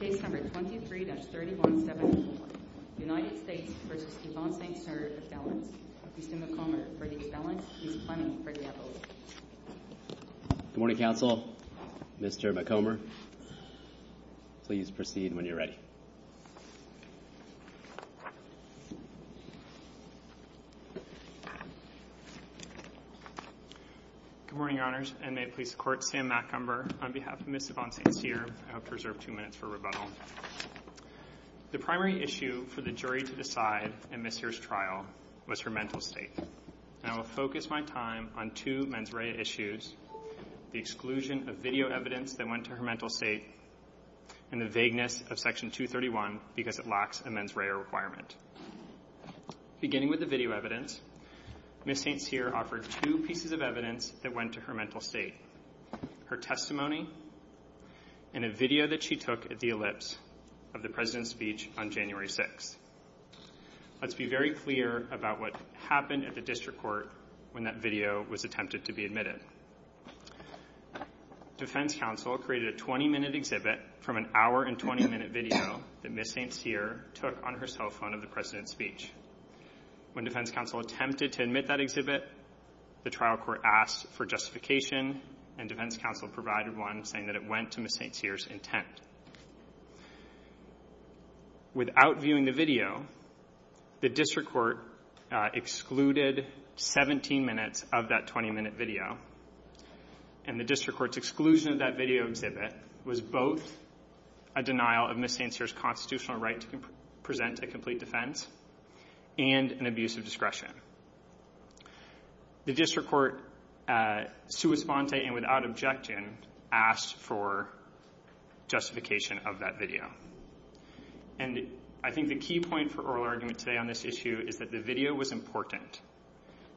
McComber v. Yvonne St Cyr. Mr. McComber, for the expellence, Ms. Clemming, for the abolition. Good morning, counsel. Mr. McComber, please proceed when you're ready. Good morning, Your Honors, and may it please the Court, Sam McComber, on behalf of Ms. Yvonne St Cyr. I hope to reserve two minutes for rebuttal. The primary issue for the jury to decide in Ms. Cyr's trial was her mental state. I will focus my time on two mens rea issues, the exclusion of video evidence that went to her mental state and the vagueness of Section 231 because it lacks a mens rea requirement. Beginning with the video evidence, Ms. St Cyr offered two pieces of evidence that went to her mental state, her testimony and a video that she took at the ellipse of the President's speech on January 6th. Let's be very clear about what happened at the district court when that video was attempted to be admitted. Defense counsel created a 20-minute exhibit from an hour and 20-minute video that Ms. St Cyr took on her cell phone of the President's speech. When defense counsel attempted to admit that exhibit, the trial court asked for justification and defense counsel provided one saying that it went to Ms. St Cyr's intent. Without viewing the video, the district court excluded 17 minutes of that 20-minute video and the district court's exclusion of that video exhibit was both a denial of Ms. St Cyr's constitutional right to present a complete defense and an abuse of discretion. The district court, sua sponte and without objection, asked for justification of that video. And I think the key point for oral argument today on this issue is that the video was important.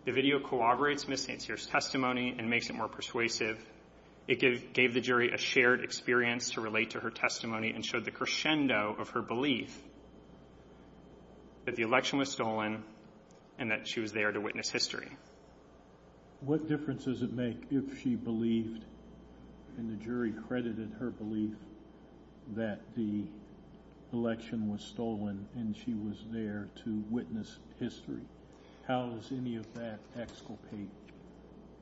The video corroborates Ms. St Cyr's testimony and makes it more persuasive. It gave the jury a shared experience to relate to her testimony and showed the crescendo of her belief that the election was stolen and that she was there to witness history. What difference does it make if she believed and the jury credited her belief that the election was stolen and she was there to witness history? How does any of that exculpate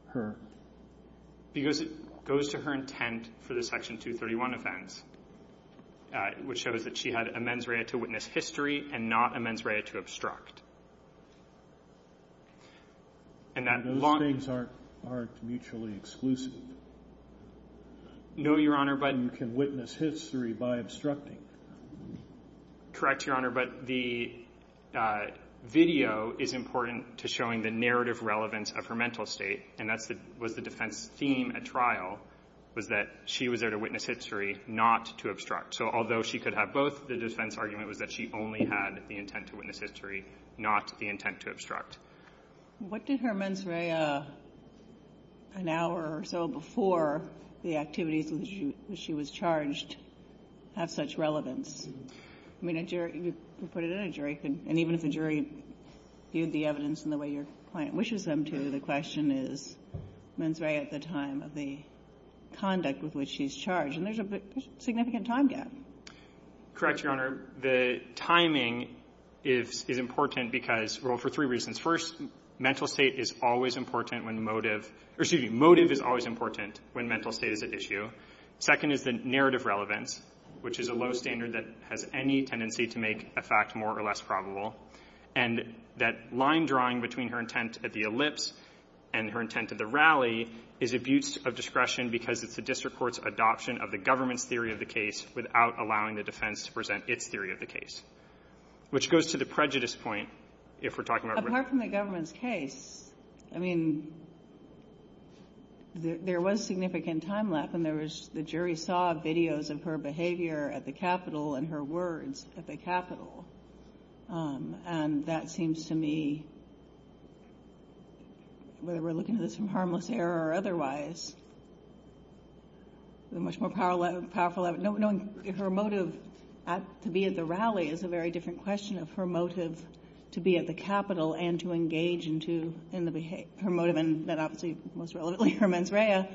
her? Because it goes to her intent for the Section 231 offense, which shows that she had a mens rea to witness history and not a mens rea to obstruct. And those things aren't mutually exclusive. No, Your Honor, but you can witness history by obstructing. Correct, Your Honor, but the video is important to showing the narrative relevance of her mental state. And that was the defense theme at trial, was that she was there to witness history, not to obstruct. So although she could have both, the defense argument was that she only had the intent to witness history, not the intent to obstruct. What did her mens rea an hour or so before the activities in which she was charged have such relevance? I mean, you put it in a jury, and even if the jury viewed the evidence in the way your client wishes them to, the question is mens rea at the time of the conduct with which she's charged. And there's a significant time gap. Correct, Your Honor. Your Honor, the timing is important because, well, for three reasons. First, mental state is always important when motive or, excuse me, motive is always important when mental state is at issue. Second is the narrative relevance, which is a low standard that has any tendency to make a fact more or less probable. And that line drawing between her intent at the ellipse and her intent at the rally is abuse of discretion because it's the district court's adoption of the government's theory of the case without allowing the defense to present its theory of the case. Which goes to the prejudice point, if we're talking about whether the government's case. I mean, there was significant time lap, and there was the jury saw videos of her behavior at the Capitol and her words at the Capitol. And that seems to me, whether we're looking at this from harmless error or otherwise, a much more powerful evidence. Knowing her motive to be at the rally is a very different question of her motive to be at the Capitol and to engage into her motive, and that obviously most relevantly her mens rea,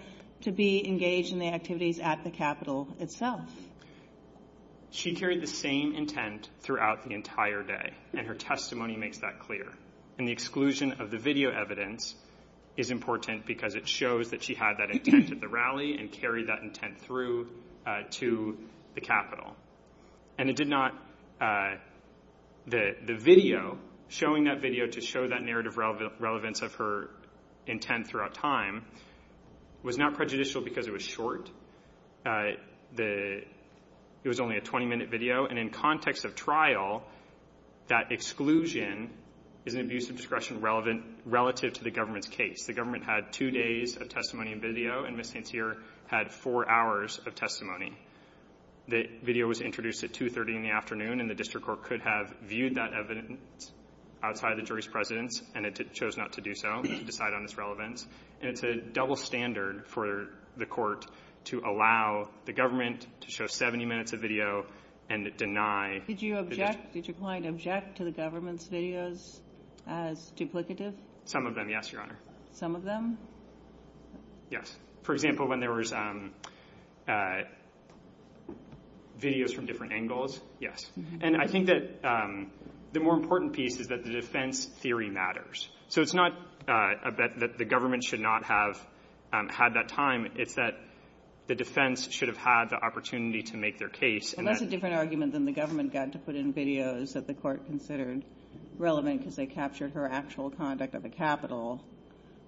to be engaged in the activities at the Capitol itself. She carried the same intent throughout the entire day, and her testimony makes that clear. And the exclusion of the video evidence is important because it shows that she had that intent at the rally and carried that intent through to the Capitol. And it did not, the video, showing that video to show that narrative relevance of her intent throughout time was not prejudicial because it was short. It was only a 20-minute video. And in context of trial, that exclusion is an abuse of discretion relative to the government's case. The government had two days of testimony and video, and Ms. St. Cyr had four hours of testimony. The video was introduced at 2.30 in the afternoon, and the district court could have viewed that evidence outside of the jury's presence, and it chose not to do so, to decide on its relevance. And it's a double standard for the court to allow the government to show 70 minutes of video and deny. Did you object? Did your client object to the government's videos as duplicative? Some of them, yes, Your Honor. Some of them? Yes. For example, when there was videos from different angles, yes. And I think that the more important piece is that the defense theory matters. So it's not that the government should not have had that time. It's that the defense should have had the opportunity to make their case. And that's a different argument than the government got to put in videos that the court considered relevant because they captured her actual conduct at the Capitol,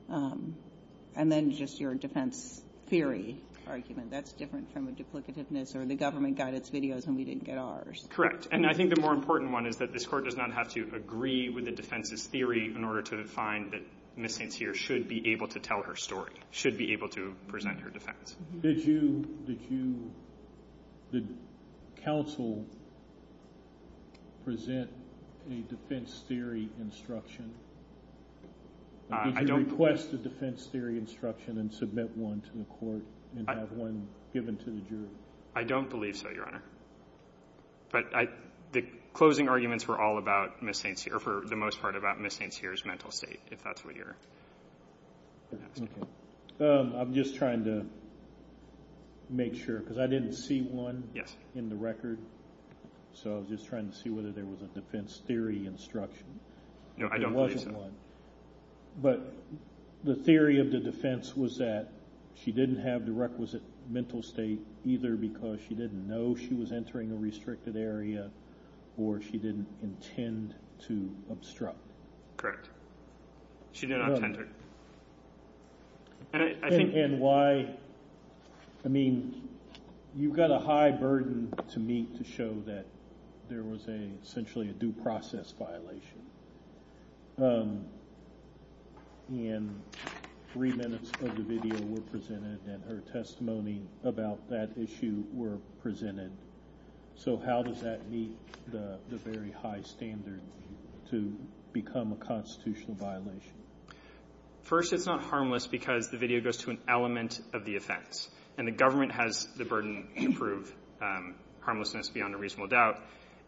and then just your defense theory argument. That's different from a duplicativeness, or the government got its videos and we didn't get ours. Correct. And I think the more important one is that this court does not have to agree with the defense's theory in order to find that Ms. St. Cyr should be able to tell her story, should be able to present her defense. Did you, did you, did counsel present a defense theory instruction? Did you request a defense theory instruction and submit one to the court and have one given to the jury? I don't believe so, Your Honor. But the closing arguments were all about Ms. St. Cyr, or for the most part about Ms. St. Cyr's mental state, if that's what you're asking. I'm just trying to make sure because I didn't see one in the record. Yes. So I was just trying to see whether there was a defense theory instruction. No, I don't believe so. There wasn't one. But the theory of the defense was that she didn't have the requisite mental state either because she didn't know she was entering a restricted area or she didn't intend to obstruct. She did not intend to. And why, I mean, you've got a high burden to meet to show that there was a, essentially a due process violation. In three minutes of the video were presented and her testimony about that issue were presented. So how does that meet the very high standard to become a constitutional violation? First, it's not harmless because the video goes to an element of the offense. And the government has the burden to prove harmlessness beyond a reasonable doubt.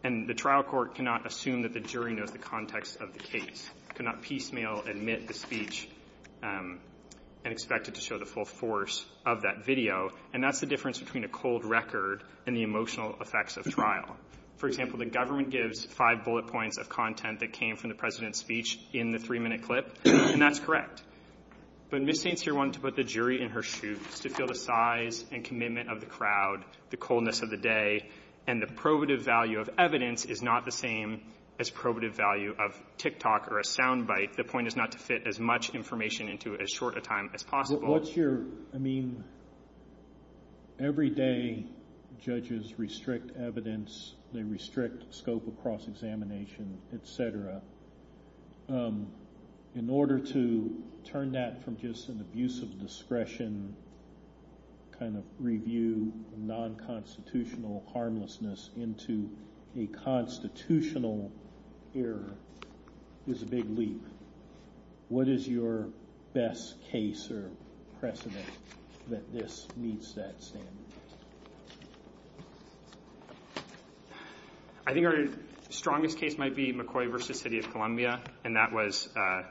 And the trial court cannot assume that the jury knows the context of the case, cannot piecemeal admit the speech and expect it to show the full force of that video. And that's the difference between a cold record and the emotional effects of trial. For example, the government gives five bullet points of content that came from the President's speech in the three-minute clip. And that's correct. But Ms. St. Cyr wanted to put the jury in her shoes to feel the size and commitment of the crowd, the coldness of the day. And the probative value of evidence is not the same as probative value of tick-tock or a sound bite. The point is not to fit as much information into it as short a time as possible. What's your, I mean, every day judges restrict evidence. They restrict scope across examination, et cetera. In order to turn that from just an abuse of discretion kind of review non-constitutional harmlessness into a constitutional error is a big leap. What is your best case or precedent that this meets that standard? I think our strongest case might be McCoy v. City of Columbia. And that was a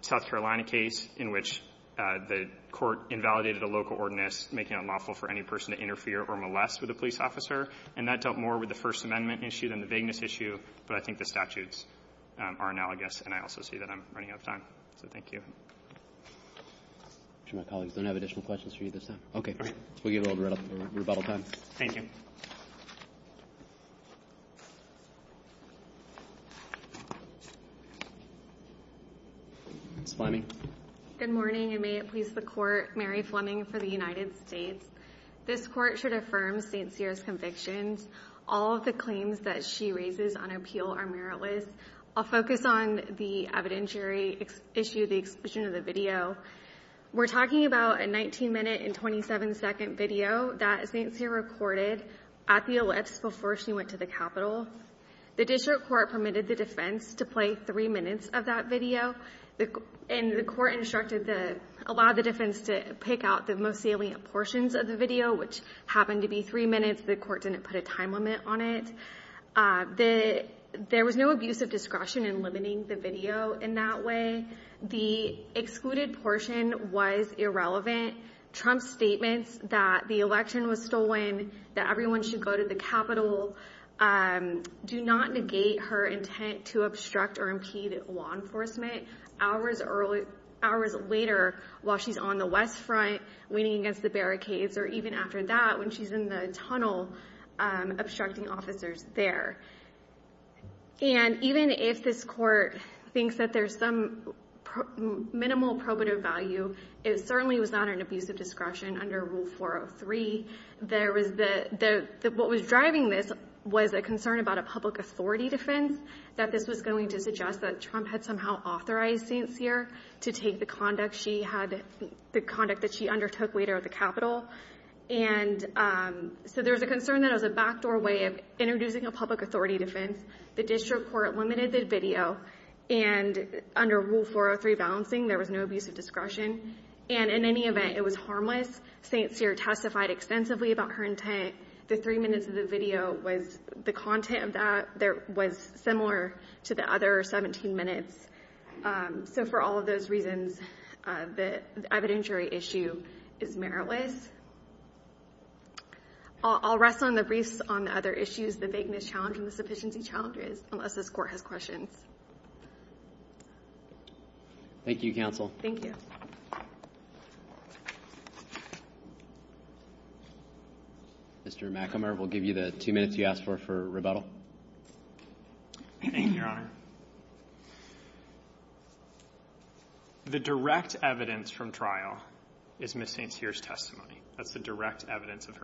South Carolina case in which the court invalidated a local ordinance making it unlawful for any person to interfere or molest with a police officer. And that dealt more with the First Amendment issue than the vagueness issue. But I think the statutes are analogous. And I also see that I'm running out of time. So thank you. I'm sure my colleagues don't have additional questions for you this time. Okay. We'll give it a little bit of rebuttal time. Thank you. Ms. Fleming. Good morning, and may it please the Court. Mary Fleming for the United States. This Court should affirm St. Cyr's convictions. All of the claims that she raises on appeal are meritless. I'll focus on the evidentiary issue, the exclusion of the video. We're talking about a 19-minute and 27-second video that St. Cyr recorded at the ellipse before she went to the Capitol. The district court permitted the defense to play three minutes of that video. And the court instructed the – allowed the defense to pick out the most salient portions of the video, which happened to be three minutes. The court didn't put a time limit on it. There was no abuse of discretion in limiting the video in that way. The excluded portion was irrelevant. Trump's statements that the election was stolen, that everyone should go to the Capitol, do not negate her intent to obstruct or impede law enforcement. Hours later, while she's on the West Front, waiting against the barricades, or even after that, when she's in the tunnel, obstructing officers there. And even if this court thinks that there's some minimal probative value, it certainly was not an abuse of discretion under Rule 403. There was the – what was driving this was a concern about a public authority defense, that this was going to suggest that Trump had somehow authorized St. Cyr to take the conduct she had – the conduct that she undertook later at the Capitol. And so there was a concern that it was a backdoor way of introducing a public authority defense. The district court limited the video. And under Rule 403 balancing, there was no abuse of discretion. And in any event, it was harmless. St. Cyr testified extensively about her intent. The three minutes of the video was – the content of that was similar to the other 17 minutes. So for all of those reasons, the evidentiary issue is meritless. I'll rest on the briefs on the other issues, the vagueness challenge and the sufficiency challenge, unless this court has questions. Thank you, counsel. Thank you. Mr. McAmyer, we'll give you the two minutes you asked for for rebuttal. Thank you, Your Honor. The direct evidence from trial is Ms. St. Cyr's testimony. That's the direct evidence of her intent.